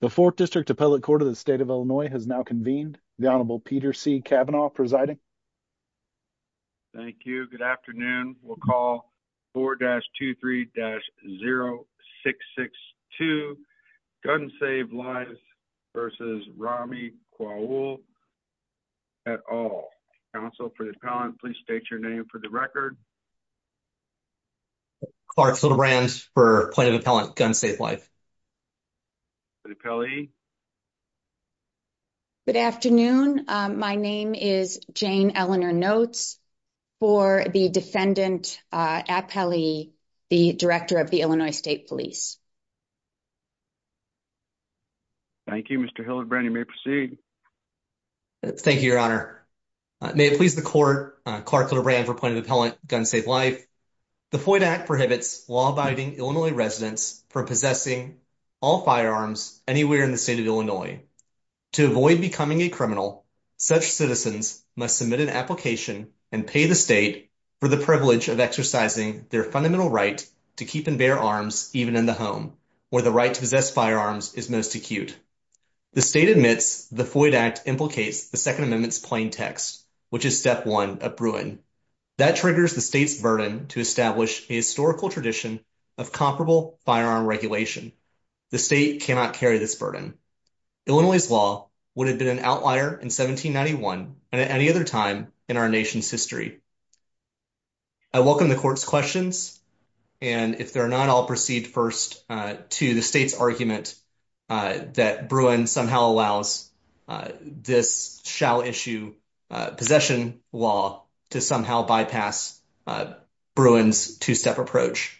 The 4th District Appellate Court of the State of Illinois has now convened. The Honorable Peter C. Kavanaugh presiding. Thank you. Good afternoon. We'll call 4-23-0662 Guns Save Life v. Rami Quaul et al. Counsel for the appellant, please state your name for the record. Clark Hildebrand for Point of Appellant, Guns Save Life. Good afternoon. My name is Jane Eleanor Notes for the Defendant Appellee, the Director of the Illinois State Police. Thank you, Mr. Hildebrand. You may proceed. Thank you, Your Honor. May it please the Court, Clark Hildebrand for Point of Appellant, Guns Save Life. The Floyd Act prohibits law-abiding Illinois residents from possessing all firearms anywhere in the state of Illinois. To avoid becoming a criminal, such citizens must submit an application and pay the state for the privilege of exercising their fundamental right to keep and bear arms even in the home, where the right to possess firearms is most acute. The state admits the Floyd Act implicates the Second Amendment's plaintext, which is step one of Bruin. That triggers the state's burden to establish a historical tradition of comparable firearm regulation. The state cannot carry this burden. Illinois' law would have been an outlier in 1791 and at any other time in our nation's history. I welcome the Court's questions, and if they're not, I'll proceed first to the state's argument that Bruin somehow allows this shall-issue possession law to somehow bypass Bruin's two-step approach.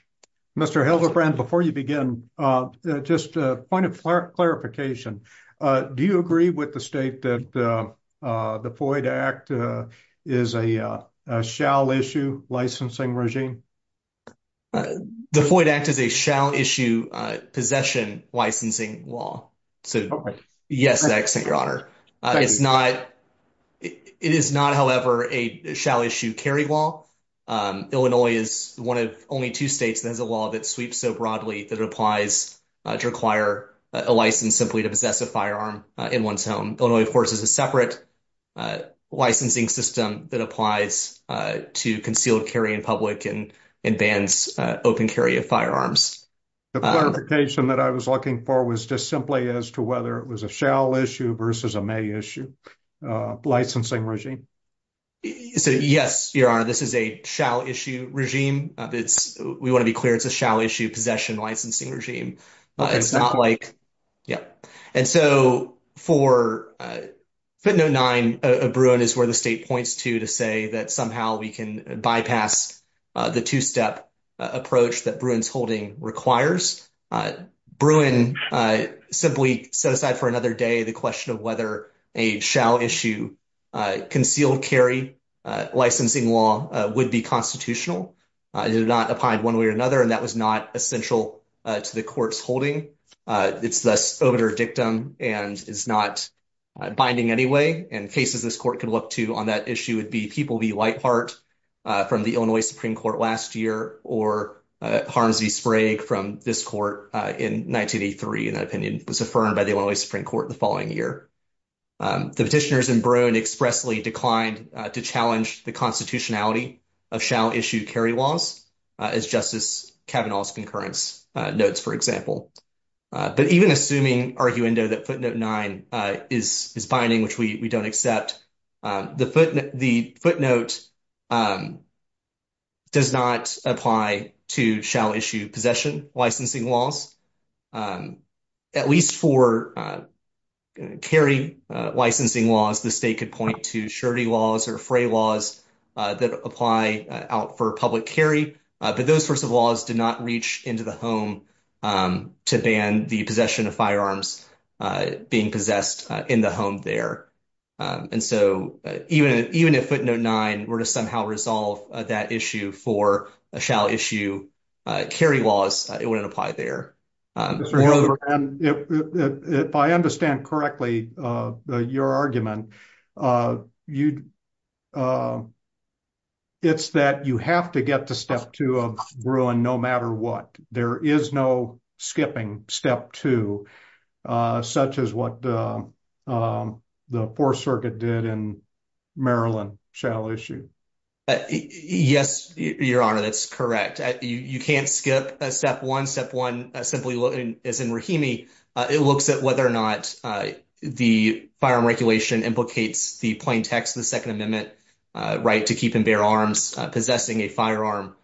Mr. Hildebrand, before you begin, just a point of clarification. Do you agree with the state that the Floyd Act is a shall-issue licensing regime? The Floyd Act is a shall-issue possession licensing law. So, yes, I accept your honor. It is not, however, a shall-issue carry law. Illinois is one of only two states that has a law that sweeps so broadly that it applies to require a license simply to possess a firearm in one's home. Illinois, of course, is a separate licensing system that applies to concealed carry in public and bans open carry of firearms. The clarification that I was looking for was just simply as to whether it was a shall-issue versus a may-issue licensing regime. So, yes, your honor, this is a shall-issue regime. We want to be clear it's a shall-issue possession licensing regime. It's not like, yeah, and so for footnote 9 of Bruin is where the state points to to say that somehow we can bypass the two-step approach that Bruin's holding requires. Bruin simply set aside for another day the question of whether a shall-issue concealed carry licensing law would be constitutional. It did not apply one way or another, and that was not essential to the court's holding. It's thus obitur dictum and is not binding anyway, and cases this court could look to on that issue would be People v. Whiteheart from the Illinois Supreme Court last year or Harms v. Sprague from this court in 1983, in that opinion, was affirmed by the Illinois Supreme Court the following year. The petitioners in Bruin expressly declined to challenge the constitutionality of shall-issue carry laws, as Justice Kavanaugh's concurrence notes, for example, but even assuming arguendo that footnote 9 is binding, which we don't accept, the footnote does not apply to shall-issue possession licensing laws. At least for carry licensing laws, the state could point to surety laws or fray laws that apply out for public carry, but those sorts of laws did not reach into the home to ban the possession of firearms being possessed in the home there, and so even if footnote 9 were to somehow resolve that issue for shall-issue carry laws, it wouldn't apply there. If I understand correctly, your argument, it's that you have to get to step two of Bruin no matter what. There is no skipping step two, such as what the Fourth Circuit did in Maryland shall-issue. Yes, your honor, that's correct. You can't skip step one. Step one, simply as in Rahimi, it looks at whether or not the firearm regulation implicates the plain text of the Second Amendment right to keep and bear arms. Possessing a firearm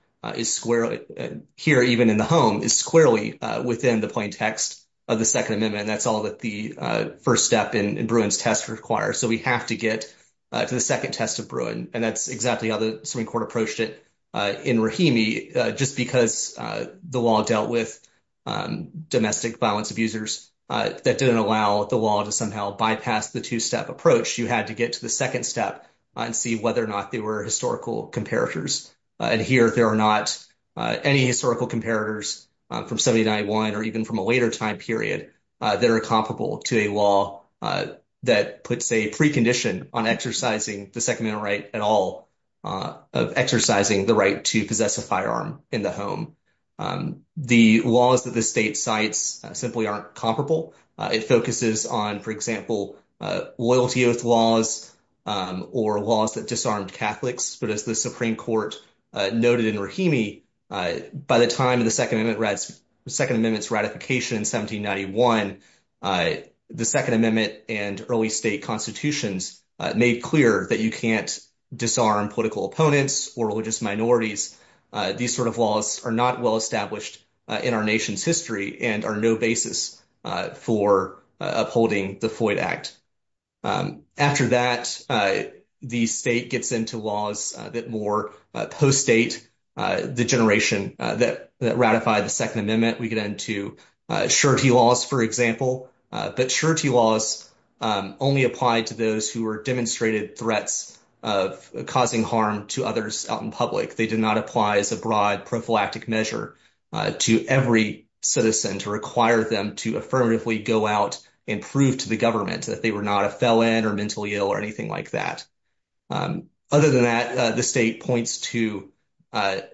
here, even in the home, is squarely within the plain text of the Second Amendment. That's all the first step in Bruin's test requires, so we have to get to the second test of Bruin, and that's exactly how the Supreme Court approached it in Rahimi. Just because the law dealt with domestic violence abusers, that didn't allow the law to somehow bypass the two-step approach. You had to get to the second step and see whether or not they were historical comparators, and here there are not any historical comparators from 1791 or even from a later time period that are comparable to a law that puts a precondition on exercising the Second Amendment right at all of exercising the right to possess a firearm in the home. The laws that the state cites simply aren't comparable. It focuses on, for example, loyalty oath laws or laws that disarmed Catholics, but as the Supreme Court noted in Rahimi, by the time of the Second Amendment's ratification in 1791, the Second Amendment and early state constitutions made clear that you can't disarm political opponents or religious minorities. These sort of laws are not well established in our nation's history and are no basis for upholding the Floyd Act. After that, the state gets into laws that more post-state the generation that ratified the Second Amendment. We get into surety laws, for example, but surety laws only applied to those who were demonstrated threats of causing harm to others out in public. They did not apply as a broad prophylactic measure to every citizen to require them to affirmatively go out and prove to the government that they were not a felon or mentally ill or anything like that. Other than that, the state points to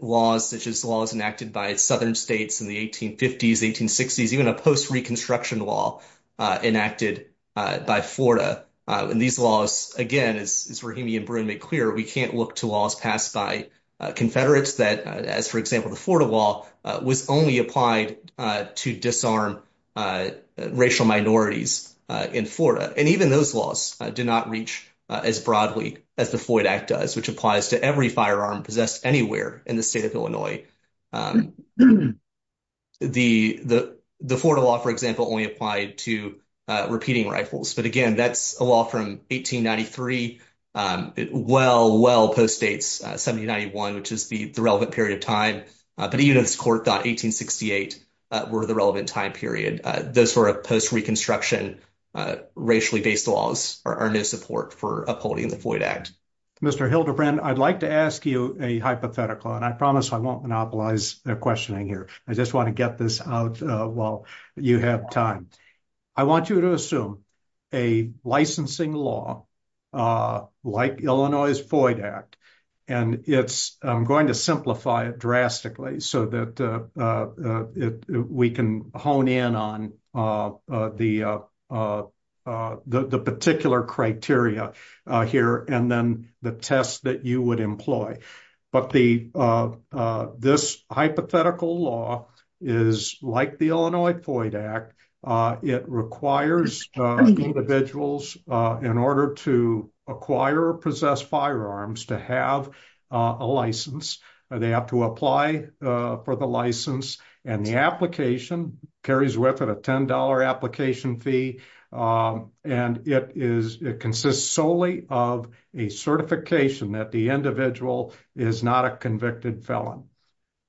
laws such as laws enacted by southern states in the 1850s, 1860s, even a post-reconstruction law enacted by Florida. And these laws, again, as Rahimi and Bruin make clear, we can't look to laws passed by Confederates that, as for example the Florida law, was only applied to disarm racial minorities in Florida. And even those laws do not reach as broadly as the Floyd Act does, which applies to every firearm possessed anywhere in the state of Illinois. The Florida law, for example, only applied to repeating rifles. But again, that's a law from 1893. It well, well post-dates 1791, which is the relevant period of time. But even if this court thought 1868 were the relevant time period, those sort of post-reconstruction racially-based laws are no support for upholding the Floyd Act. Mr. Hildebrand, I'd like to ask you a hypothetical, and I promise I won't monopolize questioning here. I just want to get this out while you have time. I want you to assume a licensing law like Illinois' Floyd Act, and I'm going to simplify it drastically so that it, we can hone in on the particular criteria here and then the tests that you would employ. But the, this hypothetical law is like the Illinois Floyd Act. It requires individuals in order to acquire or possess firearms to have a license. They have to apply for the license, and the application carries with it a $10 application fee. And it is, it consists solely of a certification that the individual is not a convicted felon.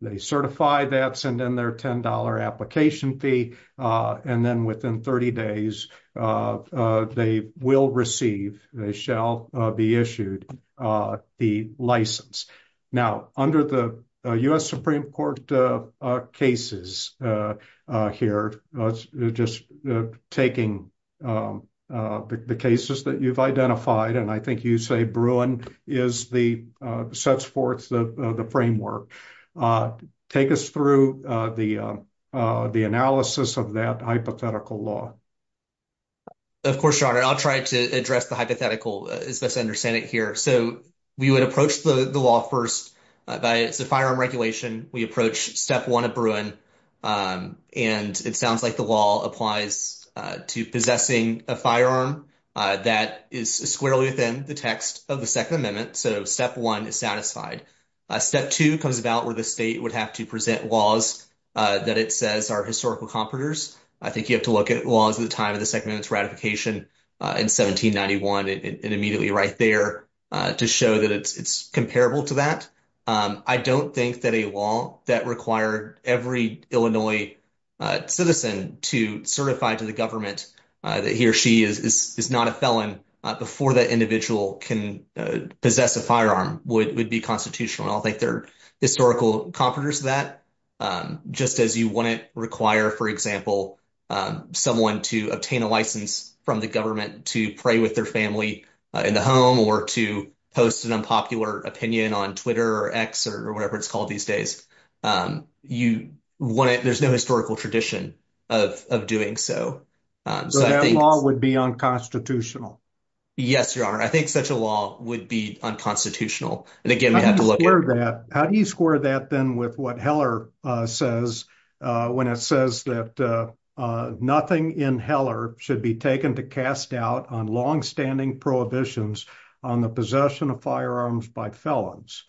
They certify that, and then their $10 application fee, and then within 30 days, they will receive, they shall be issued the license. Now, under the U.S. Supreme Court cases here, just taking the cases that you've identified, and I think you say Bruin is the, sets forth the framework. Take us through the analysis of that hypothetical law. Of course, your honor, I'll try to address the hypothetical as best I understand it here. So, we would approach the law first by, it's a firearm regulation. We approach step one at Bruin, and it sounds like the law applies to possessing a firearm that is squarely within the text of the would have to present laws that it says are historical comparators. I think you have to look at laws at the time of the Second Amendment's ratification in 1791, and immediately right there, to show that it's comparable to that. I don't think that a law that required every Illinois citizen to certify to the government that he or she is not a felon before that individual can possess a firearm would be constitutional. I don't think they're historical comparators to that, just as you wouldn't require, for example, someone to obtain a license from the government to pray with their family in the home or to post an unpopular opinion on Twitter or X or whatever it's called these days. There's no historical tradition of doing so. So, that law would be unconstitutional. Yes, your honor. I think such a law would be unconstitutional. And again, how do you square that then with what Heller says, when it says that nothing in Heller should be taken to cast doubt on longstanding prohibitions on the possession of firearms by felons?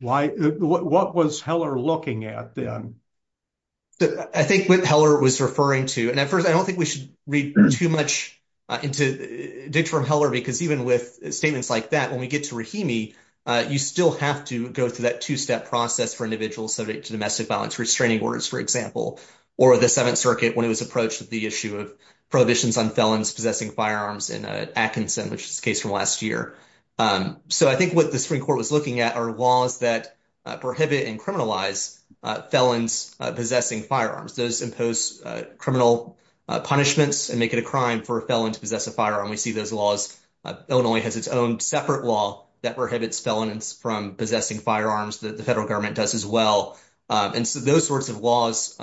What was Heller looking at then? I think what Heller was referring to, I don't think we should read too much into dictum from Heller, because even with statements like that, when we get to Rahimi, you still have to go through that two-step process for individuals subject to domestic violence restraining orders, for example, or the Seventh Circuit when it was approached the issue of prohibitions on felons possessing firearms in Atkinson, which is a case from last year. So, I think what the Supreme Court was looking at are laws that prohibit and criminalize felons possessing firearms. Those impose criminal punishments and make it a crime for a felon to possess a firearm. We see those laws. Illinois has its own separate law that prohibits felons from possessing firearms. The federal government does as well. And so, those sorts of laws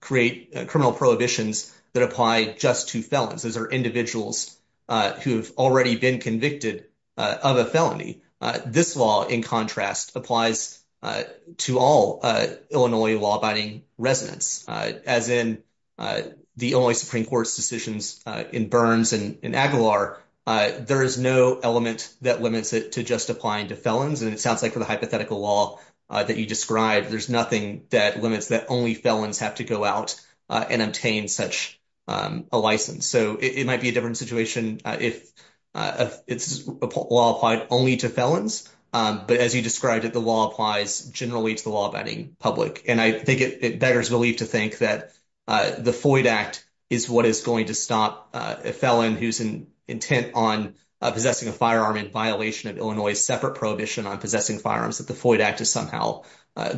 create criminal prohibitions that apply just to felons. Those are individuals who have already been convicted of a felony. This law, in contrast, applies to all Illinois law-abiding residents. As in the Illinois Supreme Court's decisions in Burns and in Aguilar, there is no element that limits it to just applying to felons. And it sounds like for the hypothetical law that you described, there's nothing that limits that only felons have to go out and obtain such a license. So, it might be a different situation if it's a law applied only to felons. But as you described it, the law applies generally to the law-abiding public. And I think it beggars belief to think that the Floyd Act is what is going to stop a felon who's in intent on possessing a firearm in violation of Illinois's separate prohibition on possessing firearms, that the Floyd Act is somehow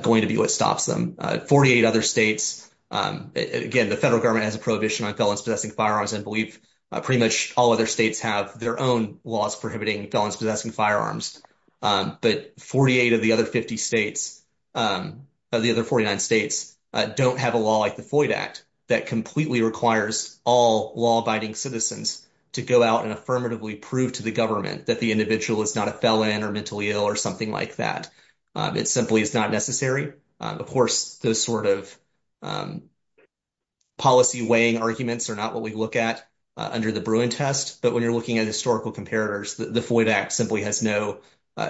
going to be what stops them. Forty-eight other states, again, the federal government has a prohibition on felons possessing firearms. I believe pretty much all other states have their own laws prohibiting felons possessing firearms. But forty-eight of the other fifty states, of the other forty-nine states, don't have a law like the Floyd Act that completely requires all law-abiding citizens to go out and affirmatively prove to the government that the individual is not a felon or mentally ill or something like that. It simply is not necessary. Of course, those sort of policy weighing arguments are not what we look at under the Bruin test. But when you're looking at historical comparators, the Floyd Act simply has no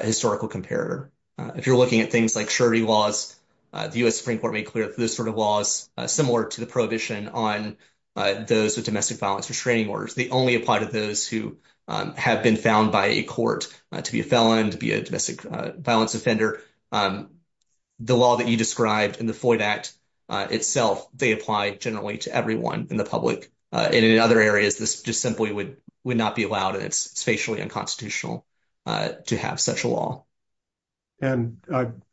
historical comparator. If you're looking at things like surety laws, the U.S. Supreme Court made clear that those sort of laws are similar to the prohibition on those with domestic violence restraining orders. They only apply to those who have been found by a court to be a felon, to be a domestic violence offender. And the law that you described in the Floyd Act itself, they apply generally to everyone in the public. And in other areas, this just simply would not be allowed, and it's spatially unconstitutional to have such a law. And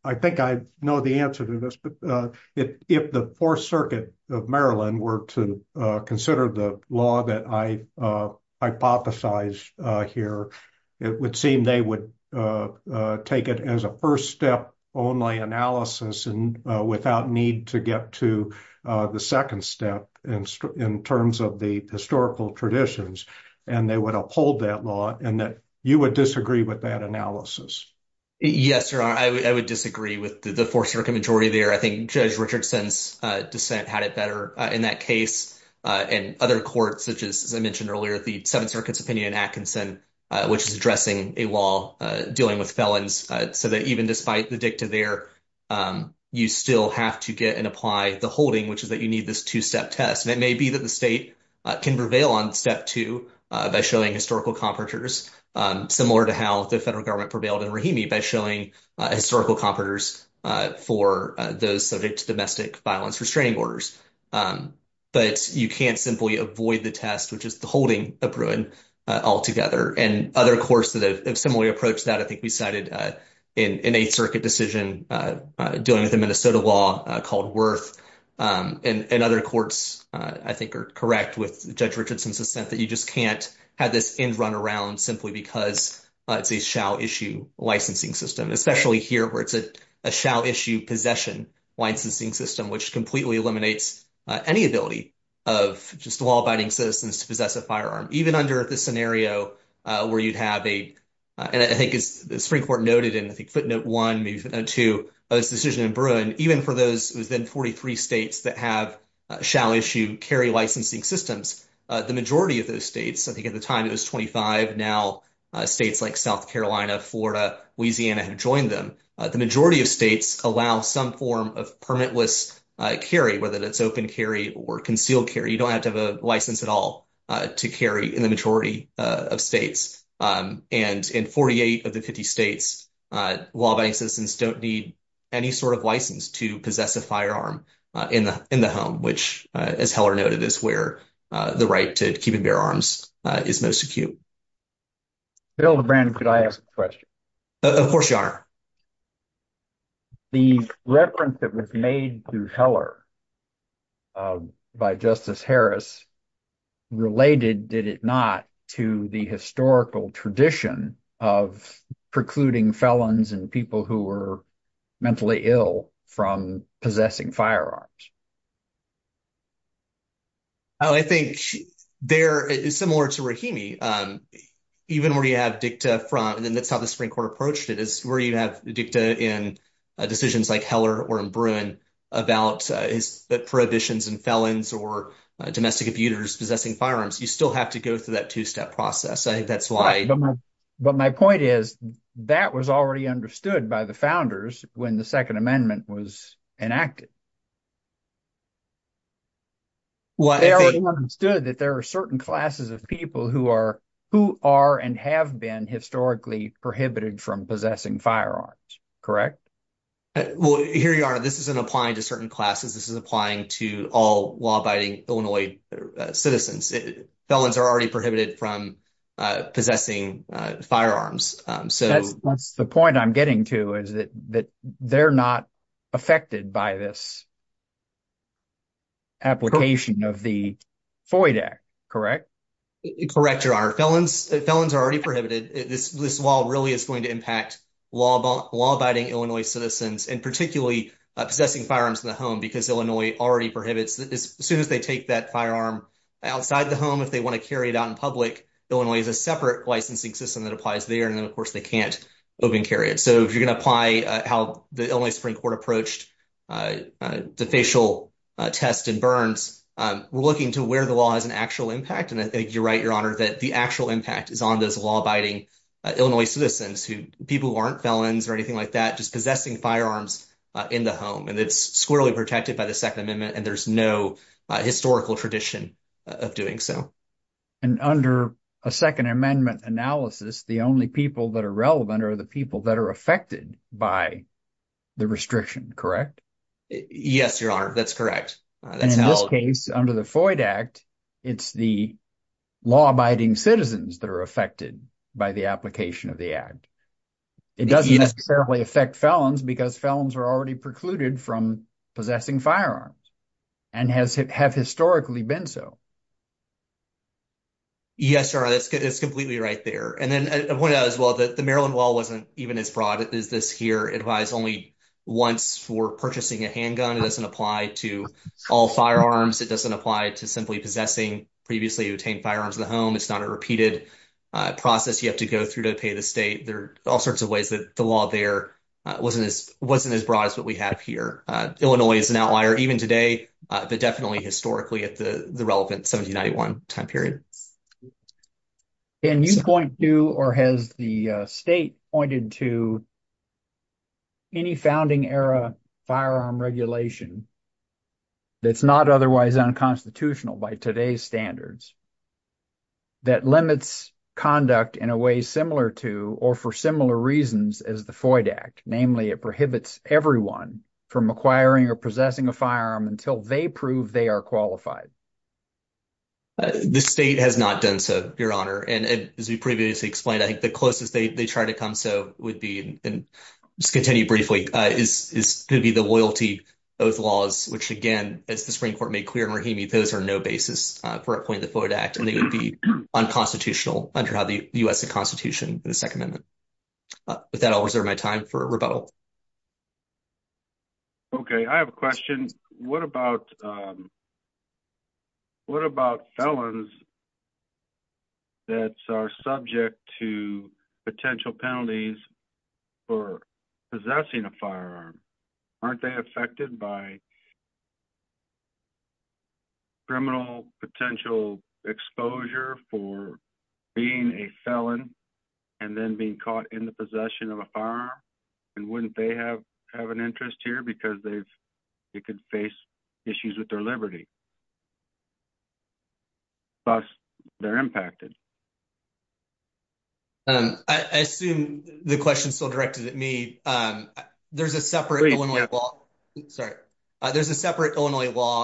I think I know the answer to this, but if the Fourth Circuit of Maryland were to consider the law that I hypothesize here, it would seem they would take it as a first step only analysis and without need to get to the second step in terms of the historical traditions. And they would uphold that law and that you would disagree with that analysis. Yes, sir. I would disagree with the Fourth Circuit majority there. I think Judge Richardson's dissent had it better in that case. And other courts, such as I mentioned earlier, the Seventh Circuit's opinion in Atkinson, which is addressing a law dealing with felons, so that even despite the dicta there, you still have to get and apply the holding, which is that you need this two-step test. And it may be that the state can prevail on step two by showing historical comparators, similar to how the federal government prevailed in Rahimi, by showing historical comparators for those subject to domestic violence restraining orders. But you can't simply avoid the test, which is the holding of Bruin altogether. And other courts that have similarly approached that, I think we cited in an Eighth Circuit decision dealing with the Minnesota law called Worth. And other courts, I think, are correct with Judge Richardson's dissent that you just can't have this end run around simply because it's a shall-issue licensing system, especially here, where it's a shall-issue possession licensing system, which completely eliminates any ability of just law-abiding citizens to possess a firearm, even under the scenario where you'd have a, and I think as the Supreme Court noted in, I think, footnote one, maybe footnote two, of this decision in Bruin, even for those within 43 states that have shall-issue carry licensing systems, the majority of those states, I think at the time it was 25, now states like South Carolina, Florida, Louisiana have joined them. The majority of states allow some form of permitless carry, whether that's open carry or concealed carry. You don't have to have a license at all to carry in the majority of states. And in 48 of the 50 states, law-abiding citizens don't need any sort of license to possess a firearm in the home, which, as Heller noted, is where the right to keep and bear arms is most acute. Bill and Brandon, could I ask a question? Of course, Your Honor. The reference that was made to Heller by Justice Harris related, did it not, to the historical tradition of precluding felons and people who were mentally ill from possessing firearms? Oh, I think there, similar to Rahimi, even where you have dicta front, and that's how the Supreme Court approached it, is where you have dicta in decisions like Heller or in Bruin about prohibitions and felons or domestic abuters possessing firearms, you still have to go through that two-step process. I think that's why- Right, but my point is that was already understood by the founders when the Second Amendment was Well, they already understood that there are certain classes of people who are, who are and have been historically prohibited from possessing firearms, correct? Well, here you are. This isn't applying to certain classes. This is applying to all law-abiding Illinois citizens. Felons are already prohibited from possessing firearms. That's the point I'm getting to, is that they're not affected by this application of the FOIA Act, correct? Correct, Your Honor. Felons are already prohibited. This law really is going to impact law-abiding Illinois citizens and particularly possessing firearms in the home because Illinois already prohibits. As soon as they take that firearm outside the home, if they want to carry it out in public, Illinois has a separate licensing system that applies there. And then, of course, they can't open carry it. So if you're going to apply how the Illinois Supreme Court approached defacial tests and burns, we're looking to where the law has an actual impact. And I think you're right, Your Honor, that the actual impact is on those law-abiding Illinois citizens, people who aren't felons or anything like that, just possessing firearms in the home. And it's squarely protected by the Second Amendment, and there's no historical tradition of doing so. And under a Second Amendment analysis, the only people that are relevant are the people that are affected by the restriction, correct? Yes, Your Honor, that's correct. And in this case, under the FOIA Act, it's the law-abiding citizens that are affected by the application of the Act. It doesn't necessarily affect felons because felons are already precluded from possessing firearms and have historically been so. Yes, Your Honor, that's completely right there. And then I pointed out as well that the Maryland law wasn't even as broad as this here. It applies only once for purchasing a handgun. It doesn't apply to all firearms. It doesn't apply to simply possessing previously obtained firearms in the home. It's not a repeated process you have to go through to pay the state. There are all sorts of ways that the law there wasn't as broad as what we have here. Illinois is an outlier even today, but definitely historically at the relevant 1791 time period. Can you point to, or has the state pointed to, any founding era firearm regulation that's not otherwise unconstitutional by today's standards that limits conduct in a way similar to or for similar reasons as the FOIA Act? Namely, it prohibits everyone from acquiring or possessing a firearm until they prove they are qualified. The state has not done so, Your Honor. And as we previously explained, I think the closest they try to come so would be, and just continue briefly, is going to be the loyalty oath laws, which again, as the Supreme Court made clear in Rahimi, those are no basis for appointing the FOIA Act. And they would be unconstitutional under the U.S. Constitution, the Second Amendment. With that, I'll reserve my time for rebuttal. Okay. I have a question. What about felons that are subject to potential penalties for possessing a firearm? Aren't they affected by criminal potential exposure for being a felon and then being caught in the possession of a firearm? And wouldn't they have an interest here because they could face issues with their liberty? Thus, they're impacted. I assume the question is still directed at me. There's a separate Illinois law,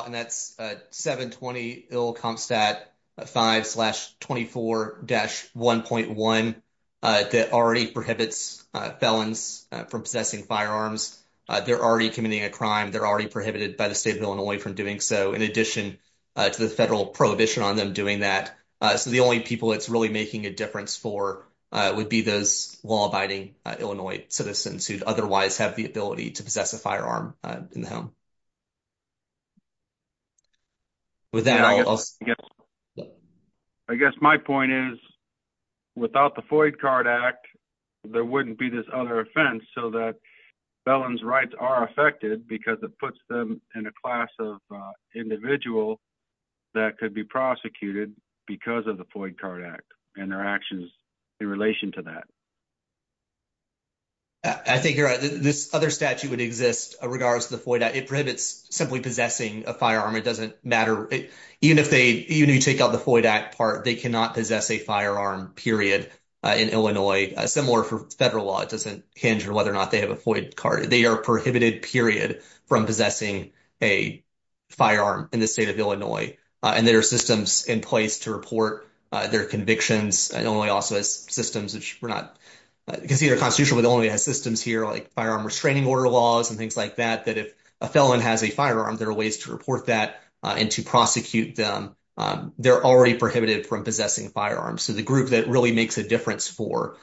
and that's 720 Ill. Compstat 5-24-1.1, that already prohibits felons from possessing firearms. They're already committing a crime. They're already prohibited by the state of Illinois from doing so, in addition to the federal prohibition on them doing that. So the only people it's really making a difference for would be those law-abiding Illinois citizens who'd otherwise have the ability to possess a firearm in the home. I guess my point is, without the Foyd Card Act, there wouldn't be this other offense so that felons' rights are affected because it puts them in a class of individual that could be prosecuted because of the Foyd Card Act and their actions in relation to that. I think you're right. This other statute would exist regardless of the Foyd Act. It prohibits simply possessing a firearm. It doesn't matter. Even if you take out the Foyd Act part, they cannot possess a firearm, period, in Illinois. Similar for federal law. It doesn't hinge on whether or not they have a Foyd Card. They are prohibited, period, from possessing a firearm in the state of Illinois. There are systems in place to report their convictions. Illinois also has systems which were not considered constitutional, but Illinois has systems here, like firearm restraining order laws and things like that, that if a felon has a firearm, there are ways to report that and to prosecute them. They're already prohibited from possessing firearms. So the group that really makes a difference for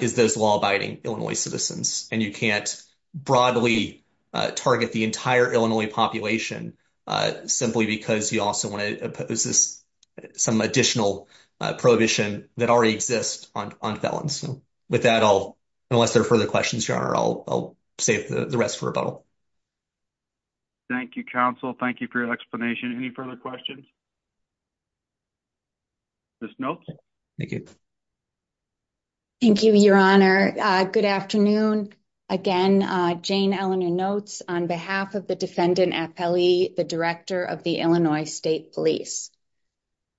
is those law-abiding Illinois citizens. And you can't broadly target the entire Illinois population simply because you also want to impose some additional prohibition that already exists on felons. With that, unless there are further questions, Your Honor, I'll save the rest for rebuttal. Thank you, counsel. Thank you for your explanation. Any further questions? Ms. Notes? Thank you. Thank you, Your Honor. Good afternoon. Again, Jane Eleanor Notes on behalf of the Defendant Appellee, the Director of the Illinois State Police.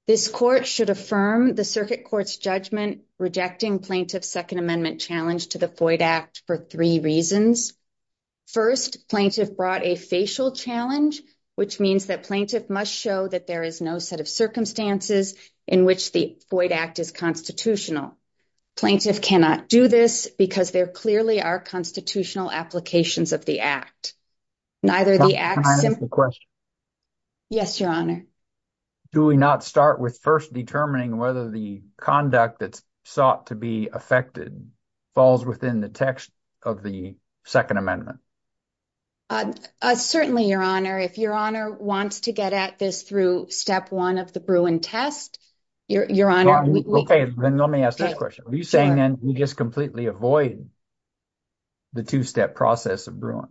This court should affirm the Circuit Court's judgment rejecting Plaintiff's Second Amendment challenge to the FOID Act for three reasons. First, Plaintiff brought a facial challenge, which means that Plaintiff must show that there is no set of circumstances in which the FOID Act is constitutional. Plaintiff cannot do this because there clearly are constitutional applications of the Act. Do we not start with first determining whether the conduct that's sought to be affected falls within the text of the Second Amendment? Certainly, Your Honor. If Your Honor wants to get at this through step one of the Bruin test, Your Honor. Okay, then let me ask this question. Are you saying then we just completely avoid the two-step process of Bruin?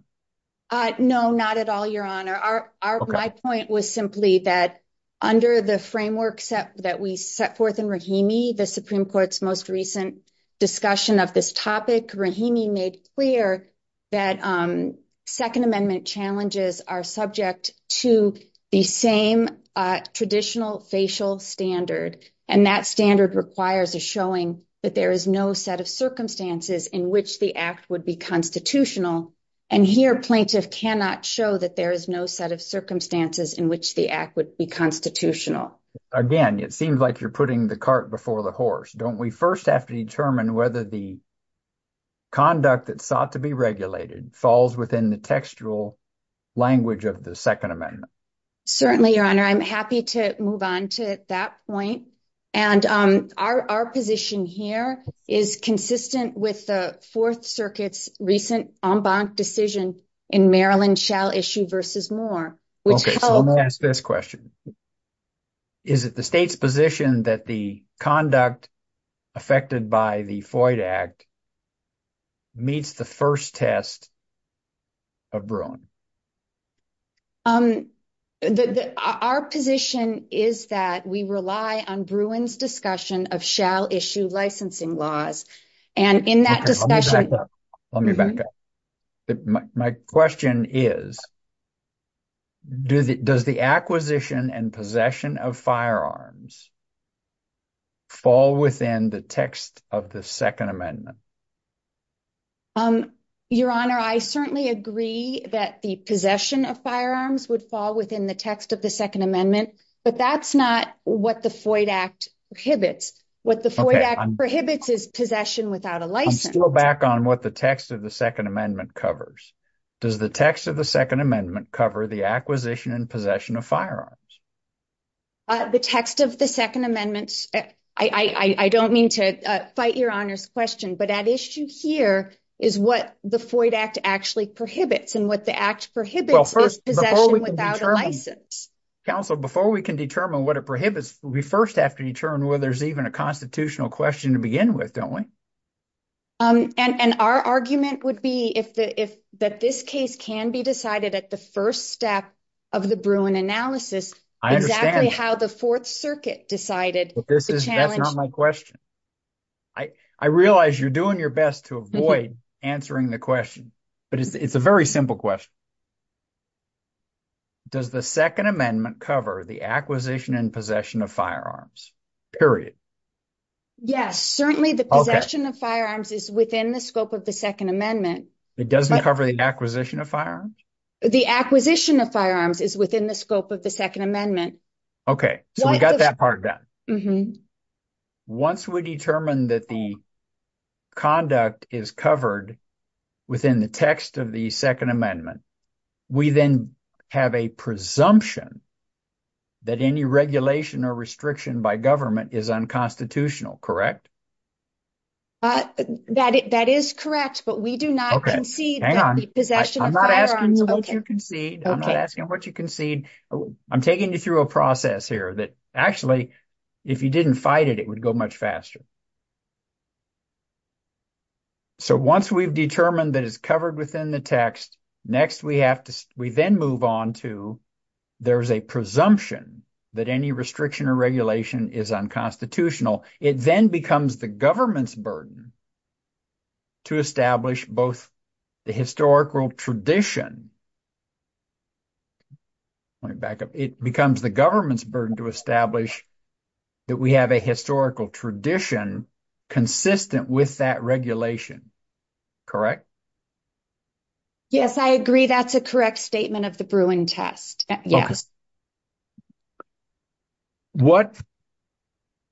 No, not at all, Your Honor. My point was simply that under the framework that we set forth in Rahimi, the Supreme Court's most recent discussion of this topic, Rahimi made clear that Second Amendment challenges are subject to the same traditional facial standard, and that standard requires a showing that there is no set of circumstances in which the Act would be constitutional. And here, Plaintiff cannot show that there is no set of circumstances in which the Act would be constitutional. Again, it seems like you're putting the cart before the horse. Don't we first have to determine whether the conduct that's sought to be regulated falls within the textual language of the Second Amendment? Certainly, Your Honor. I'm happy to move on to that point. And our position here is consistent with the Fourth Circuit's recent en banc decision in Maryland, shall issue versus more. Okay, so let me ask this question. Is it the state's position that the conduct affected by the Floyd Act meets the first test of Bruin? Our position is that we rely on Bruin's discussion of shall issue licensing laws. And in that discussion... Let me back up. My question is, does the acquisition and possession of firearms fall within the text of the Second Amendment? Your Honor, I certainly agree that the possession of firearms would fall within the text of the Second Amendment, but that's not what the Floyd Act prohibits. What the Floyd Act prohibits is possession without a license. I'm still back on what the text of the Second Amendment covers. Does the text of the Second Amendment cover the acquisition and possession of firearms? The text of the Second Amendment, I don't mean to fight Your Honor's question, but at issue here is what the Floyd Act actually prohibits. And what the act prohibits is possession without a license. Counsel, before we can determine what it prohibits, we first have to determine whether there's even a constitutional question to begin with, don't we? And our argument would be that this case can be decided at the first step of the Bruin analysis, exactly how the Fourth Circuit decided. That's not my question. I realize you're doing your best to avoid answering the question, but it's a very simple question. Does the Second Amendment cover the acquisition and possession of firearms, period? Yes, certainly the possession of firearms is within the scope of the Second Amendment. It doesn't cover the acquisition of firearms? The acquisition of firearms is within the scope of the Second Amendment. Okay, so we got that part done. Once we determine that the conduct is covered within the text of the Second Amendment, we then have a presumption that any regulation or restriction by government is unconstitutional, correct? That is correct, but we do not concede that the possession of firearms... Hang on. I'm not asking what you concede. I'm not asking what you concede. I'm taking you through a process here that, actually, if you didn't fight it, it would go much faster. So once we've determined that it's covered within the text, next we then move on to there's a presumption that any restriction or regulation is unconstitutional. It then becomes the government's burden to establish both the historical tradition it becomes the government's burden to establish that we have a historical tradition consistent with that regulation, correct? Yes, I agree. That's a correct statement of the Bruin Test. Yes. What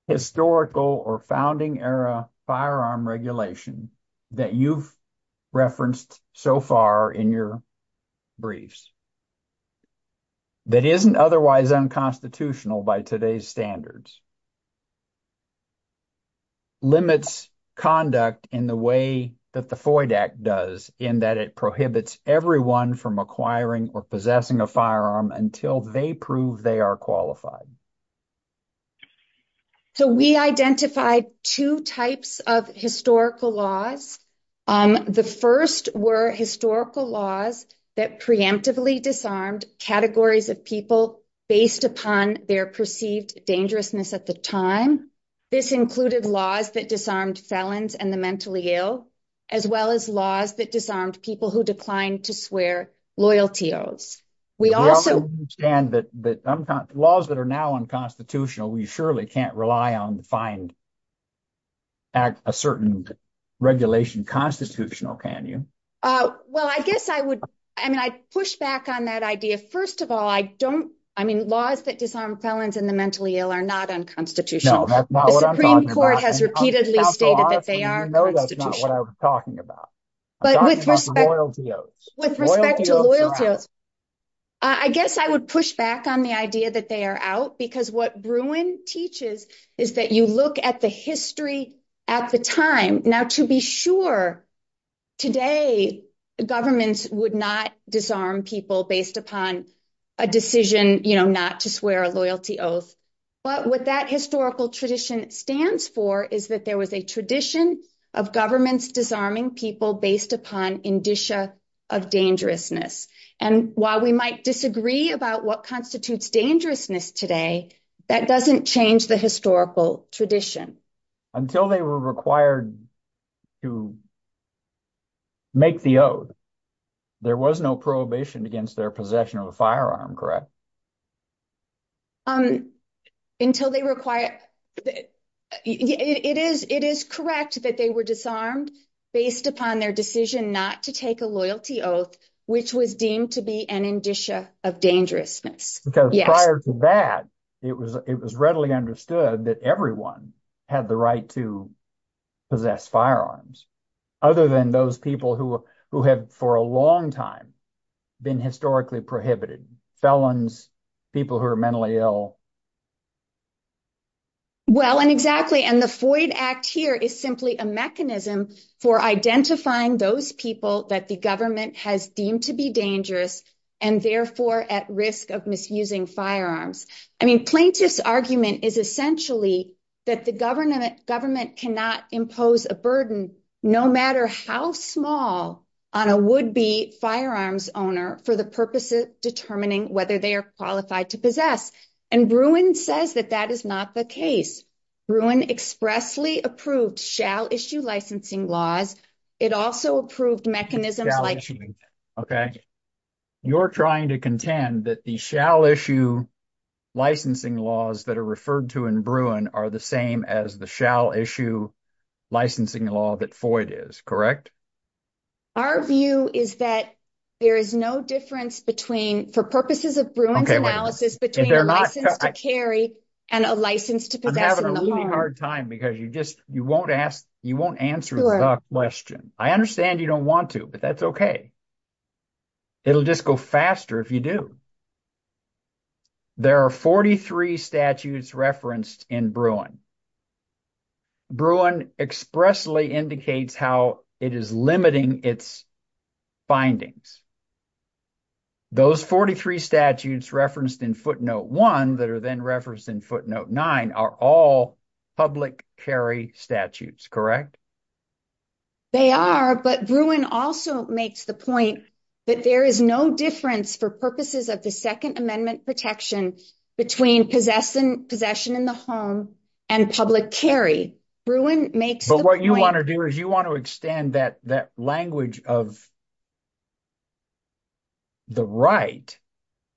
historical or founding-era firearm regulation that you've referenced so far in your briefs? That isn't otherwise unconstitutional by today's standards. Limits conduct in the way that the FOID Act does in that it prohibits everyone from acquiring or possessing a firearm until they prove they are qualified. So we identified two types of historical laws. The first were historical laws that preemptively disarmed categories of people based upon their perceived dangerousness at the time. This included laws that disarmed felons and the mentally ill, as well as laws that disarmed people who declined to swear loyalty oaths. Laws that are now unconstitutional, we surely can't rely on to find a certain regulation constitutional, can you? Well, I guess I would, I mean, I'd push back on that idea. First of all, I don't, I mean, laws that disarmed felons and the mentally ill are not unconstitutional. I guess I would push back on the idea that they are out because what Bruin teaches is that you look at the history at the time. Now to be sure today, governments would not disarm people based upon a decision, you know, not to swear a loyalty oath. But what that historical tradition stands for is that there was a tradition of governments disarming people based upon indicia of dangerousness. And while we might disagree about what constitutes dangerousness today, that doesn't change the historical tradition. Until they were required to make the oath, there was no prohibition against their possession of a firearm, correct? Until they require, it is, it is correct that they were disarmed based upon their decision not to take a loyalty oath, which was deemed to be an indicia of dangerousness. Because prior to that, it was, it was readily understood that everyone had the right to possess firearms, other than those people who, who have for a long time been historically prohibited, felons, people who are mentally ill. Well, and exactly. And the Floyd Act here is simply a mechanism for identifying those people that the government has deemed to be dangerous, and therefore at risk of misusing firearms. I mean, plaintiff's argument is essentially that the government cannot impose a burden, no matter how small, on a would-be firearms owner for the purposes of determining whether they are qualified to possess. And Bruin says that that is not the case. Bruin expressly approved shall-issue licensing laws. It also approved mechanisms like... Okay, you're trying to contend that the shall-issue licensing laws that are referred to in Bruin are the same as the shall-issue licensing law that Floyd is, correct? Our view is that there is no difference between, for purposes of Bruin's analysis, between a license to carry and a license to possess. I'm having a really hard time because you just, you won't ask, you won't answer the question. I understand you don't want to, but that's okay. It'll just go faster if you do. There are 43 statutes referenced in Bruin. Bruin expressly indicates how it is limiting its findings. Those 43 statutes referenced in footnote one that are then referenced in footnote nine are all public carry statutes, correct? They are, but Bruin also makes the point that there is no difference for purposes of the Second Amendment protection between possession in the home and public carry. Bruin makes the point... But what you want to do is you want to extend that language of the right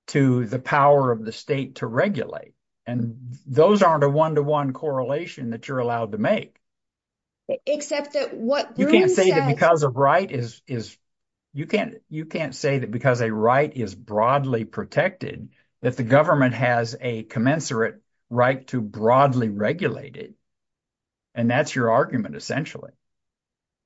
to the power of the state to regulate, and those aren't a one-to-one correlation that you're allowed to make. Except that what Bruin said... You can't say that because a right is broadly protected that the government has a commensurate right to broadly regulate it, and that's your argument essentially.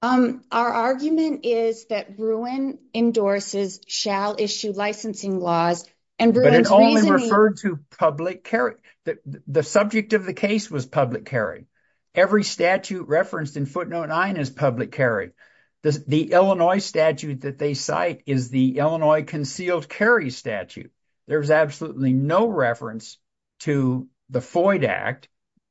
Our argument is that Bruin endorses shall issue licensing laws, and Bruin's reasoning... But it only referred to public carry. The subject of the case was public carry. Every statute referenced in footnote nine is public carry. The Illinois statute that they cite is the Illinois concealed carry statute. There's absolutely no reference to the Foyd Act,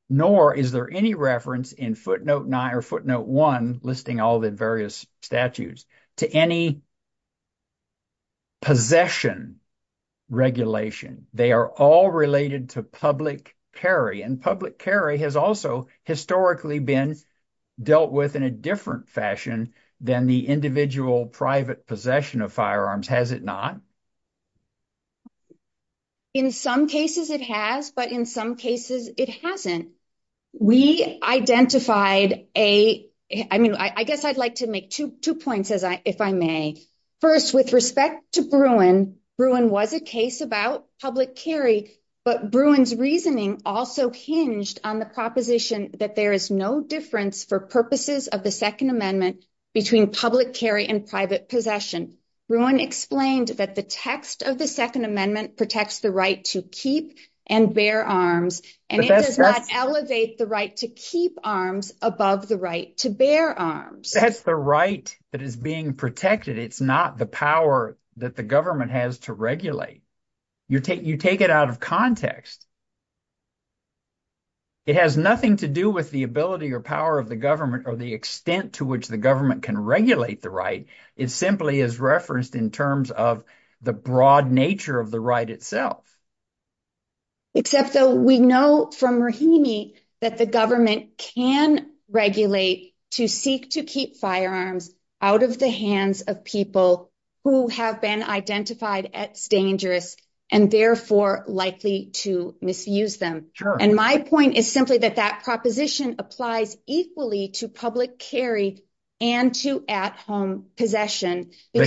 nor is there any reference in footnote nine or footnote one listing all the various statutes to any possession regulation. They are all related to public carry, and public carry has also historically been dealt with in a different fashion than the individual private possession of firearms, has it not? In some cases it has, but in some cases it hasn't. We identified a... I guess I'd like to make two points, if I may. First, with respect to Bruin, Bruin was a case about public carry, but Bruin's reasoning also hinged on the proposition that there is no difference for purposes of the Second Amendment between public carry and private possession. Bruin explained that the text of the Second Amendment protects the right to keep and bear arms, and it does not elevate the right to keep arms above the right to bear arms. That's the right that is being protected. It's not the power that the government has to regulate. You take it out of context. It has nothing to do with the ability or power of the government or the extent to which the government can regulate the right. It simply is referenced in terms of the broad nature of the right itself. Except though we know from Rahimi that the government can regulate to seek to keep firearms out of the hands of people who have been identified as dangerous and therefore likely to misuse them. And my point is simply that that proposition applies equally to public carry and to at-home possession. If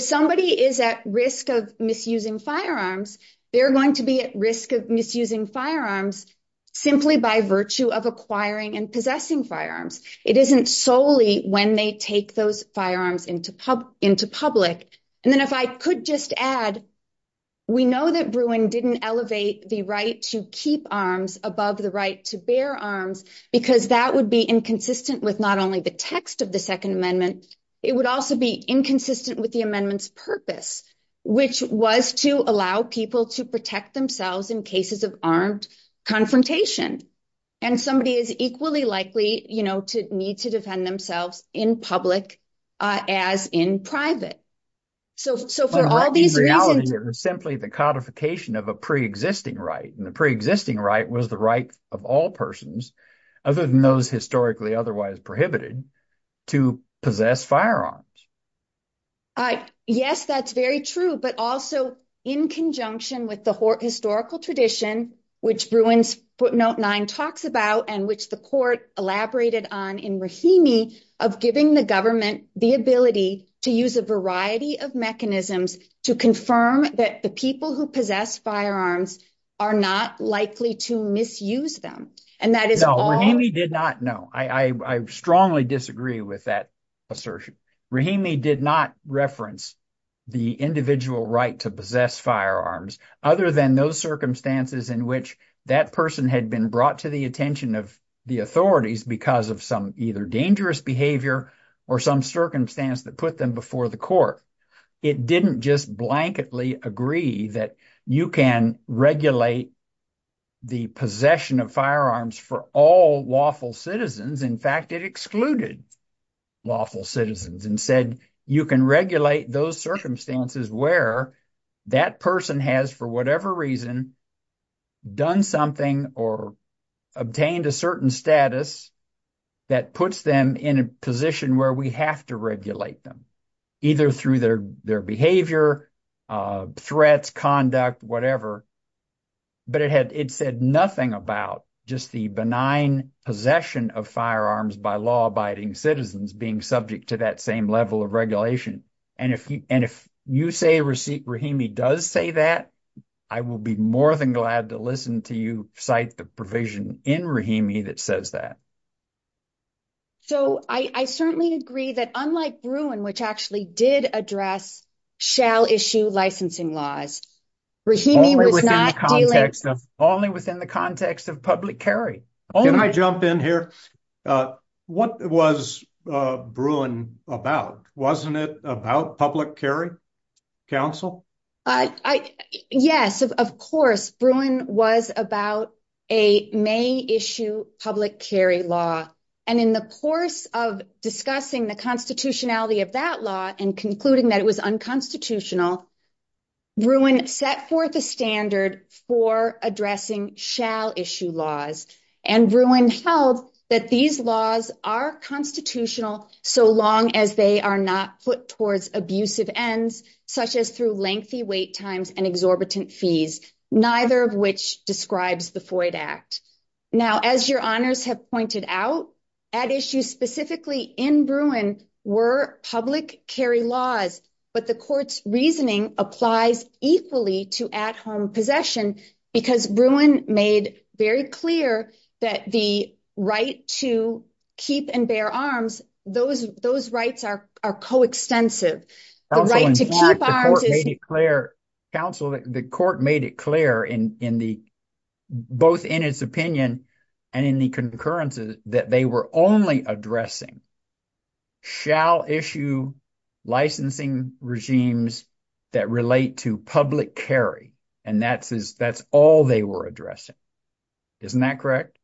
somebody is at risk of misusing firearms, they're going to be at risk of misusing firearms simply by virtue of acquiring and possessing firearms. It isn't solely when they take those firearms into public. And then if I could just add, we know that Bruin didn't elevate the right to keep arms above the right to bear arms because that would be inconsistent with not only the text of the Second Amendment, it would also be inconsistent with the amendment's purpose, which was to allow people to protect themselves in cases of armed confrontation. And somebody is equally likely, you know, to need to defend themselves in public as in private. So for all these reasons... But in reality, it was simply the codification of a pre-existing right. And the pre-existing right was the right of all persons, other than those historically otherwise prohibited, to possess firearms. Yes, that's very true. But also in conjunction with the historical tradition, which Bruin's Note 9 talks about, and which the court elaborated on in Rahimi, of giving the government the ability to use a variety of mechanisms to confirm that the people who possess firearms are not likely to misuse them. And that is... No, Rahimi did not. No, I strongly disagree with that assertion. Rahimi did not reference the individual right to possess firearms, other than those circumstances in which that person had been brought to the attention of the authorities because of some either dangerous behavior or some circumstance that put them before the court. It didn't just blanketly agree that you can regulate the possession of firearms for all lawful citizens. In fact, it excluded lawful citizens and said you can regulate those circumstances where that person has, for whatever reason, done something or obtained a certain status that puts them in a position where we have to regulate them, either through their behavior, threats, conduct, whatever. But it said nothing about just the benign possession of firearms by law-abiding citizens being subject to that level of regulation. And if you say Rahimi does say that, I will be more than glad to listen to you cite the provision in Rahimi that says that. So, I certainly agree that unlike Bruin, which actually did address shall-issue licensing laws, Rahimi was not dealing... Only within the context of public carry. Can I jump in here? What was Bruin about? Wasn't it about public carry, counsel? Yes, of course. Bruin was about a may-issue public carry law. And in the course of discussing the constitutionality of that law and concluding that it was unconstitutional, Bruin set forth a standard for addressing shall-issue laws. And Bruin held that these laws are constitutional so long as they are not put towards abusive ends, such as through lengthy wait times and exorbitant fees, neither of which describes the Floyd Act. Now, as your honors have pointed out, at issue specifically in Bruin were public carry laws, but the court's reasoning applies equally to at-home possession because Bruin made very clear that the right to keep and bear arms, those rights are coextensive. The right to keep arms is... Counsel, the court made it clear in the... Both in its opinion and in the concurrences that they were only addressing shall-issue licensing regimes that relate to public carry, and that's all they were addressing. Isn't that correct?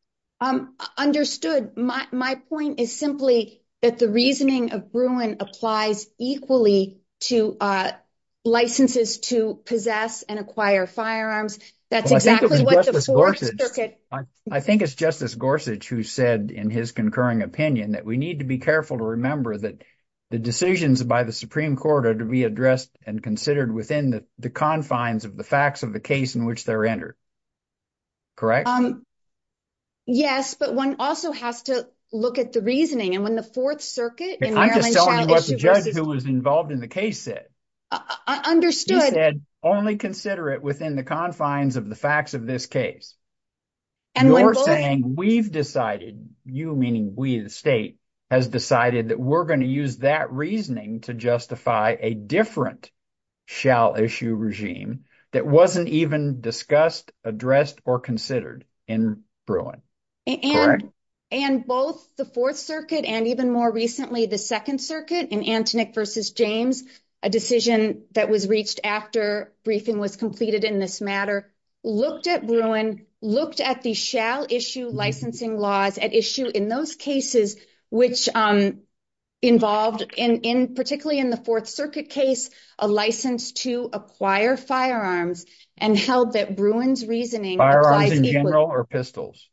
Understood. My point is simply that the reasoning of Bruin applies equally to licenses to possess and acquire firearms. That's exactly what the Fourth Circuit... I think it's Justice Gorsuch who said in his concurring opinion that we need to be careful to remember that the decisions by the Supreme Court are to be addressed and considered within the confines of the facts of the case in which they're entered. Correct? Yes, but one also has to look at the reasoning. And when the Fourth Circuit in Maryland... I'm just telling you what the judge who was involved in the case said. I understood. He said only consider it within the confines of the facts of this case. You're saying we've decided, you meaning we the state, has decided that we're going to use that reasoning to justify a different shall-issue regime that wasn't even discussed, addressed, or considered in Bruin. And both the Fourth Circuit and even more recently the Second Circuit in Antinick v. James, a decision that was reached after briefing was completed in this matter, looked at Bruin, looked at the shall-issue licensing laws at issue in those cases which involved, particularly in the Fourth Circuit case, a license to acquire firearms and held that Bruin's reasoning... Firearms in general or pistols?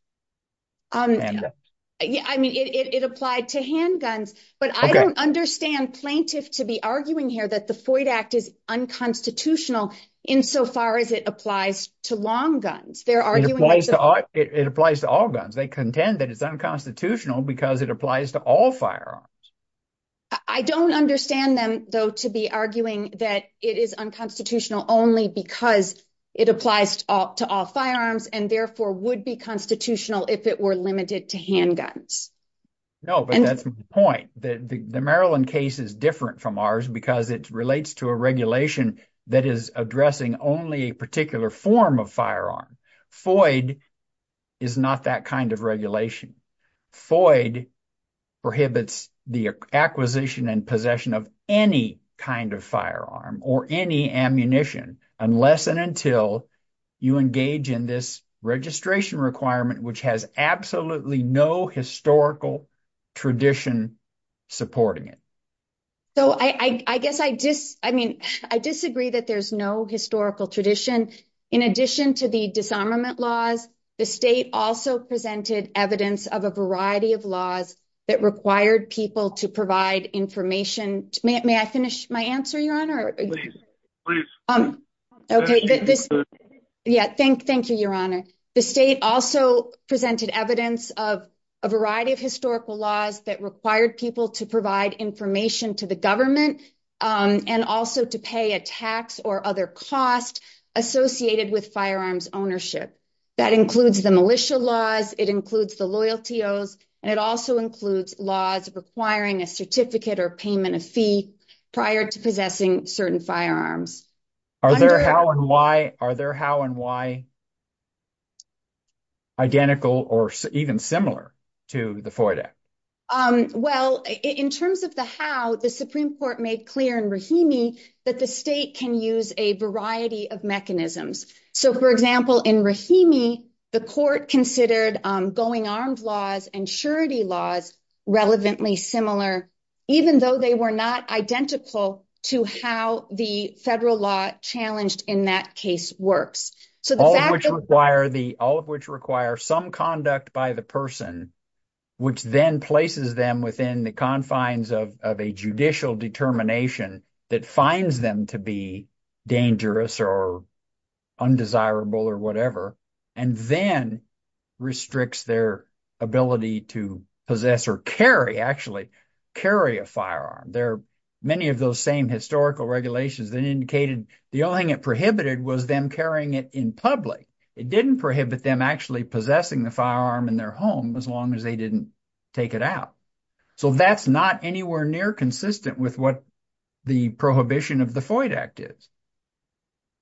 Yeah, I mean it applied to handguns. But I don't understand plaintiff to be arguing here that the Floyd Act is unconstitutional insofar as it applies to long guns. They're arguing... It applies to all guns. They contend that it's unconstitutional because it applies to all firearms. I don't understand them though to be arguing that it is unconstitutional only because it applies to all firearms and therefore would be constitutional if it were limited to handguns. No, but that's my point. The Maryland case is different from ours because it relates to a regulation that is addressing only a particular form of firearm. Floyd is not that kind of regulation. Floyd prohibits the acquisition and possession of any kind of firearm or any ammunition unless and until you engage in this registration requirement which has absolutely no historical tradition supporting it. So I guess I disagree that there's no historical tradition. In addition to the disarmament laws, the state also presented evidence of a variety of laws that required people to provide information. May I finish my answer, Your Honor? Please, please. Okay, thank you, Your Honor. The state also presented evidence of a variety of historical laws that required people to provide information to the government and also to pay a tax or other cost associated with firearms ownership. That includes the militia laws, it includes the loyalties, and it also includes laws requiring a certificate or payment of fee prior to possessing certain firearms. Are there how and why identical or even similar to the Floyd Act? Well, in terms of the how, the Supreme Court made clear in Rahimi that the state can use a variety of mechanisms. So, for example, in Rahimi, the court considered going armed laws and surety laws relevantly similar even though they were not identical to how the federal law challenged in that case works. All of which require some conduct by the person which then places them within the confines of a judicial determination that finds them to be dangerous or undesirable or whatever, and then restricts their ability to possess or carry, actually, carry a firearm. Many of those same historical regulations then indicated the only thing it prohibited was them carrying it in public. It didn't prohibit them actually possessing the firearm in their home as long as they didn't take it out. So that's not anywhere near consistent with what the prohibition of the Floyd Act is.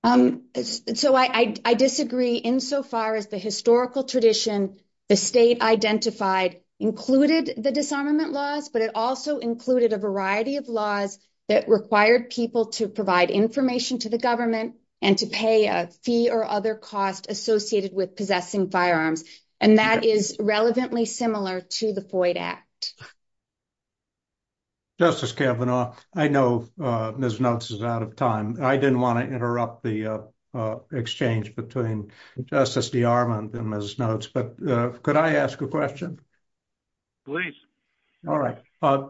So, I disagree insofar as the historical tradition the state identified included the disarmament laws, but it also included a variety of laws that required people to provide information to the government and to pay a fee or other cost associated with possessing firearms, and that is relevantly similar to the Floyd Act. Justice Kavanaugh, I know Ms. Notes is out of time. I didn't want to interrupt the exchange between Justice D'Armand and Ms. Notes, but could I ask a question? Please. All right.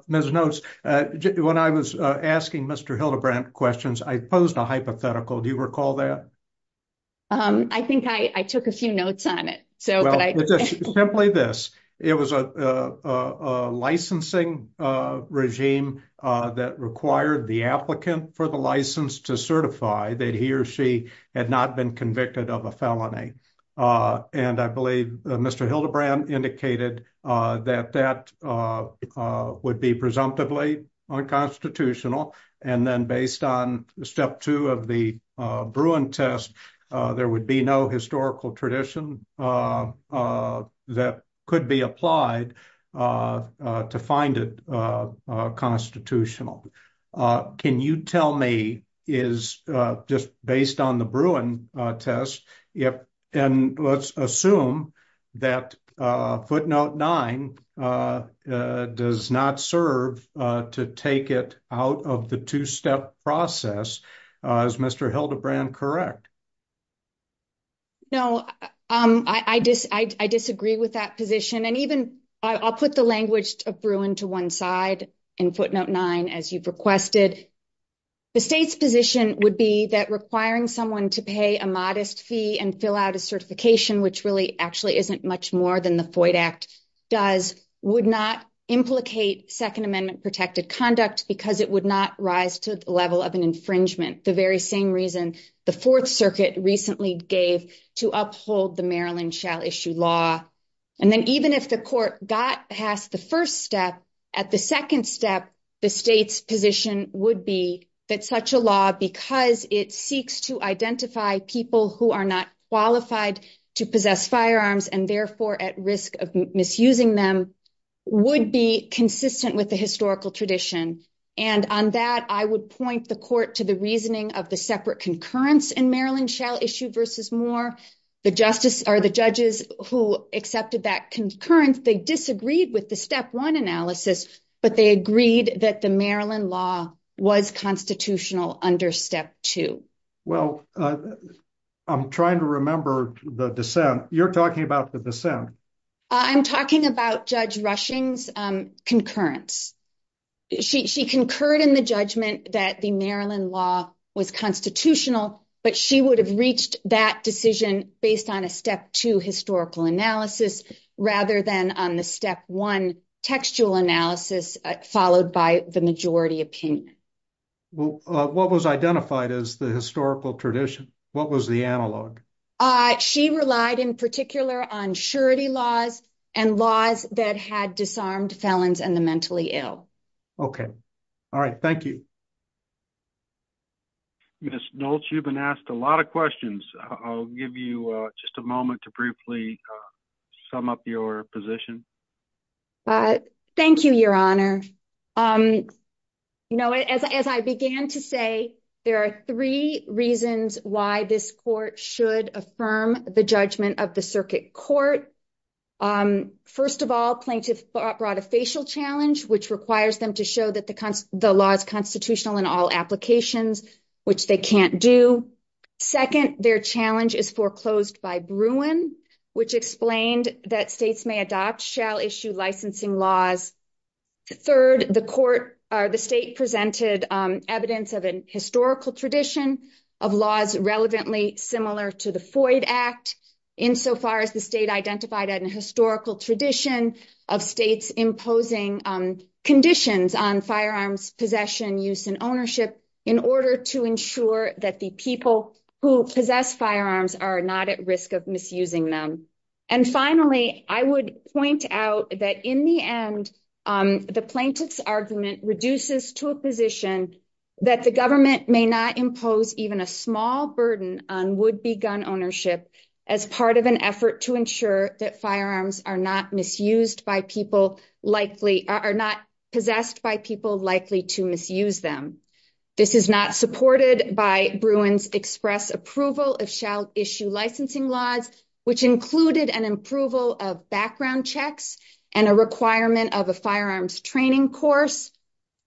Ms. Notes, when I was asking Mr. Hildebrandt questions, I posed a hypothetical. Do you recall that? I think I took a few notes on it. Simply this. It was a licensing regime that required the applicant for the license to certify that he or she had not been convicted of a felony, and I believe Mr. Hildebrandt indicated that that would be presumptively unconstitutional, and then based on step two of the Bruin test, there would be no historical tradition that could be applied to find it constitutional. Can you tell me, just based on the Bruin test, and let's assume that footnote nine does not serve to take it out of the two-step process, is Mr. Hildebrandt correct? No, I disagree with that position, and even I'll put the language of Bruin to one side in footnote nine, as you've requested. The state's position would be that requiring someone to pay a modest fee and fill out a certification, which really actually isn't much more than the FOID Act does, would not implicate Second Amendment protected conduct because it would not rise to the level of an infringement, the very same reason the Fourth Circuit recently gave to uphold the Maryland shall issue law, and then even if the court got past the first step, at the second step, the state's position would be that such a law, because it seeks to identify people who are not qualified to possess firearms and therefore at risk of misusing them, would be consistent with the historical tradition. And on that, I would point the court to the reasoning of the separate concurrence in Maryland shall issue versus Moore. The judges who accepted that concurrence, they disagreed with the step one analysis, but they agreed that the Maryland law was constitutional under step two. Well, I'm trying to remember the dissent. You're talking about the dissent. I'm talking about Judge Rushing's concurrence. She concurred in the judgment that the Maryland law was constitutional, but she would have reached that decision based on a step two historical analysis rather than on the step one textual analysis followed by the majority opinion. Well, what was identified as the historical tradition? What was the analog? She relied in particular on surety laws and laws that had disarmed felons and the mentally ill. Okay. All right. Thank you. Ms. Nolts, you've been asked a lot of questions. I'll give you just a moment to briefly sum up your position. Thank you, your honor. You know, as I began to say, there are three reasons why this court should affirm the judgment of the circuit court. First of all, plaintiff brought a facial challenge, which requires them to show that the law is constitutional in all applications, which they can't do. Second, their challenge is foreclosed by Bruin, which explained that states may adopt shall issue licensing laws. Third, the court, or the state presented evidence of an historical tradition of laws relevantly similar to the Floyd Act, insofar as the state identified at an historical tradition of states imposing conditions on firearms possession, use and ownership in order to ensure that the people who possess firearms are not at risk of misusing them. And finally, I would point out that in the end, the plaintiff's argument reduces to a position that the government may not impose even a small burden on would be gun ownership as part of an effort to ensure that firearms are not misused by people likely are not possessed by people likely to misuse them. This is not supported by Bruin's express approval of shall issue licensing laws, which included an approval of background checks and a requirement of a firearms training course.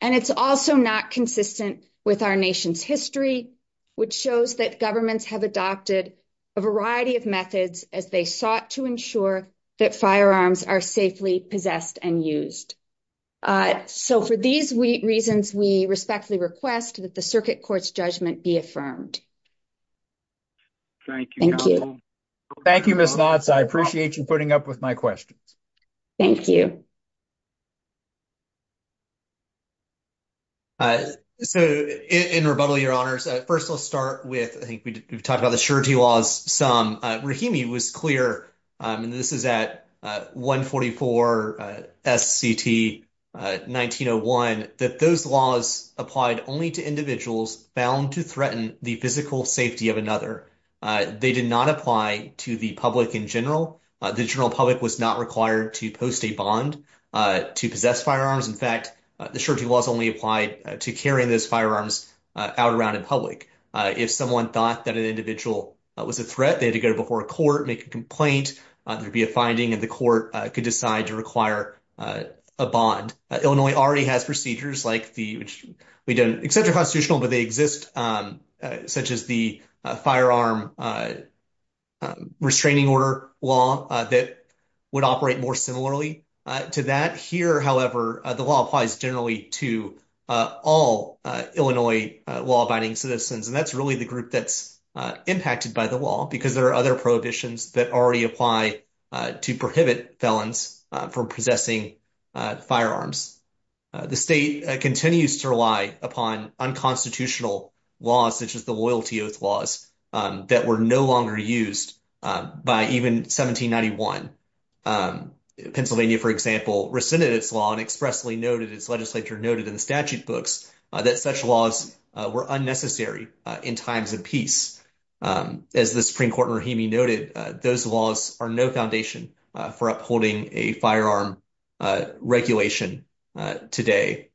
And it's also not consistent with our nation's history, which shows that governments have adopted a variety of methods as they sought to ensure that firearms are safely possessed and used. So for these reasons, we respectfully request that the circuit court's judgment be affirmed. Thank you. Thank you. Thank you, Ms. Knotts. I appreciate you putting up with my questions. Thank you. So, in rebuttal, your honors, first, let's start with, I think we've talked about the surety laws some. Rahimi was clear, and this is at 144 S. C. T. 1901, that those laws applied only to safety of another. They did not apply to the public in general. The general public was not required to post a bond to possess firearms. In fact, the surety laws only applied to carrying those firearms out around in public. If someone thought that an individual was a threat, they had to go before a court, make a complaint, there'd be a finding, and the court could decide to require a bond. Illinois already has procedures like the, which we don't accept are constitutional, but they exist, such as the firearm restraining order law that would operate more similarly to that. Here, however, the law applies generally to all Illinois law-abiding citizens, and that's really the group that's impacted by the law because there are other prohibitions that already apply to prohibit felons from possessing firearms. The state continues to rely upon unconstitutional laws such as the loyalty oath laws that were no longer used by even 1791. Pennsylvania, for example, rescinded its law and expressly noted, as legislature noted in the statute books, that such laws were unnecessary in times of peace. As the Supreme Court in Rahimi noted, those laws are no foundation for upholding a firearm regulation today.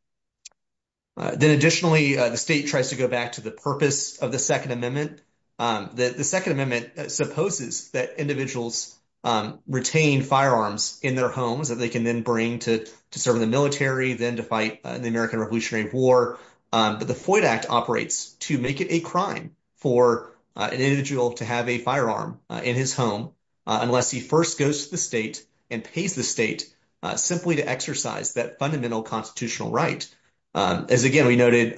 Then additionally, the state tries to go back to the purpose of the Second Amendment. The Second Amendment supposes that individuals retain firearms in their homes that they can then bring to serve in the military, then to fight in the American Revolutionary War, but the Floyd Act operates to make it a crime for an individual to have a firearm in his home unless he first goes to the state and pays the state simply to exercise that fundamental constitutional right. As again we noted,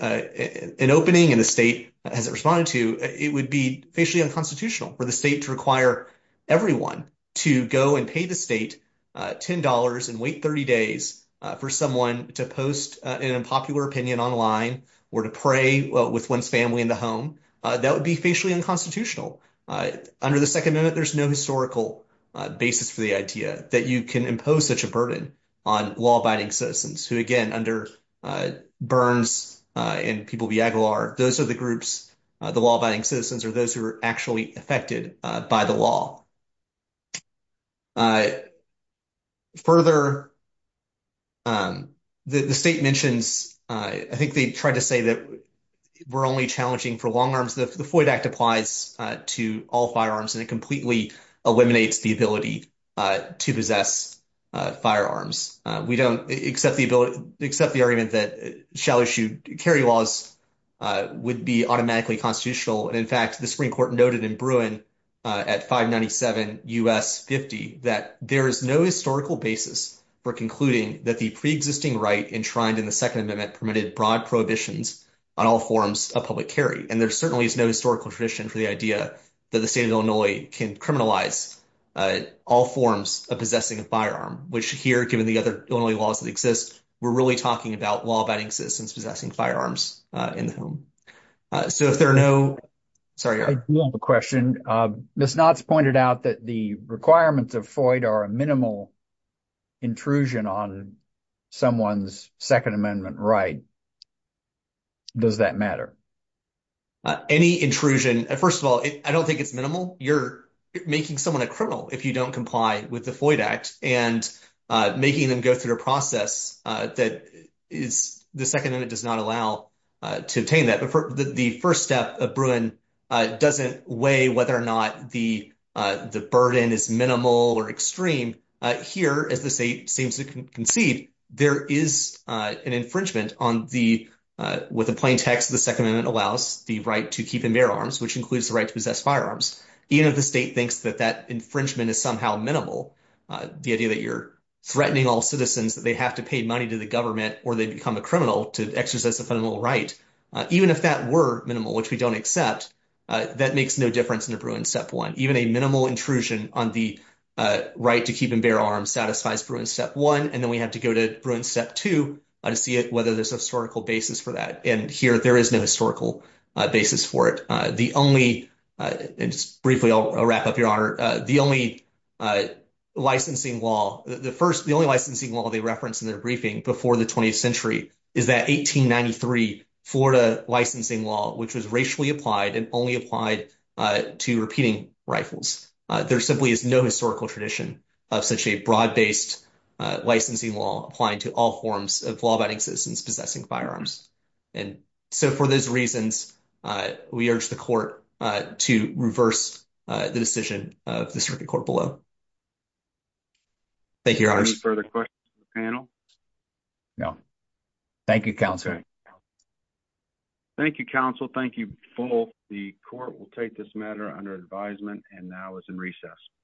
an opening in the state, as it responded to, it would be facially unconstitutional for the state to require everyone to go and pay the state $10 and wait 30 days for someone to post an unpopular opinion online or to pray with one's family in the home. That would be facially unconstitutional. Under the Second Amendment, there's no historical basis for the idea that you can impose such a burden on law-abiding citizens who, again, under Burns and people of Yaglar, those are the groups, the law-abiding citizens, are those who are actually affected by the law. Further, the state mentions, I think they tried to say that we're only challenging for long arms. The Floyd Act applies to all firearms and it completely eliminates the ability to possess firearms. We don't accept the argument that shallow-shoe carry laws would be automatically constitutional. In fact, the Supreme Court noted in Bruin at 597 U.S. 50 that there is no historical basis for concluding that the pre-existing right enshrined in the Second Amendment permitted broad prohibitions on all forms of public carry. There certainly is no historical tradition for the idea that the state of Illinois can criminalize all forms of possessing a firearm, which here, given the other Illinois laws that exist, we're really talking about law-abiding citizens possessing firearms in the home. So if there are no... Sorry, Eric. I do have a question. Ms. Knott's pointed out that the requirements of Floyd are a minimal intrusion on someone's Second Amendment right. Does that matter? Any intrusion, first of all, I don't think it's minimal. You're making someone a criminal if you don't comply with the Floyd Act and making them go through the process that the Second Amendment does not allow to obtain that. The first step of Bruin doesn't weigh whether or not the burden is minimal or extreme. Here, as the state seems to concede, there is an infringement on the... With a plain text, the Second Amendment allows the right to keep and bear arms, which includes the right to possess firearms. Even if the state thinks that that infringement is somehow minimal, the idea that you're threatening all citizens that they have to pay money to the government or they become a criminal to exercise a criminal right, even if that were minimal, which we don't accept, that makes no difference in the Bruin Step 1. Even a minimal intrusion on the right to keep and bear arms satisfies Bruin Step 1, and then we have to go to Bruin Step 2 to see whether there's a historical basis for that. And here, there is no historical basis for it. The only... And just briefly, I'll wrap up, Your Honor. The only licensing law... The only licensing law they referenced in their briefing before the 20th century is that 1893 Florida licensing law, which was racially applied and only applied to repeating rifles. There simply is no historical tradition of such a broad-based licensing law applying to all forms of law-abiding citizens possessing firearms. And so, for those reasons, we urge the Court to reverse the decision of the Circuit Court below. Thank you, Your Honors. Any further questions for the panel? No. Thank you, Counsel. Thank you, Counsel. Thank you both. The Court will take this matter under advisement, and now is in recess.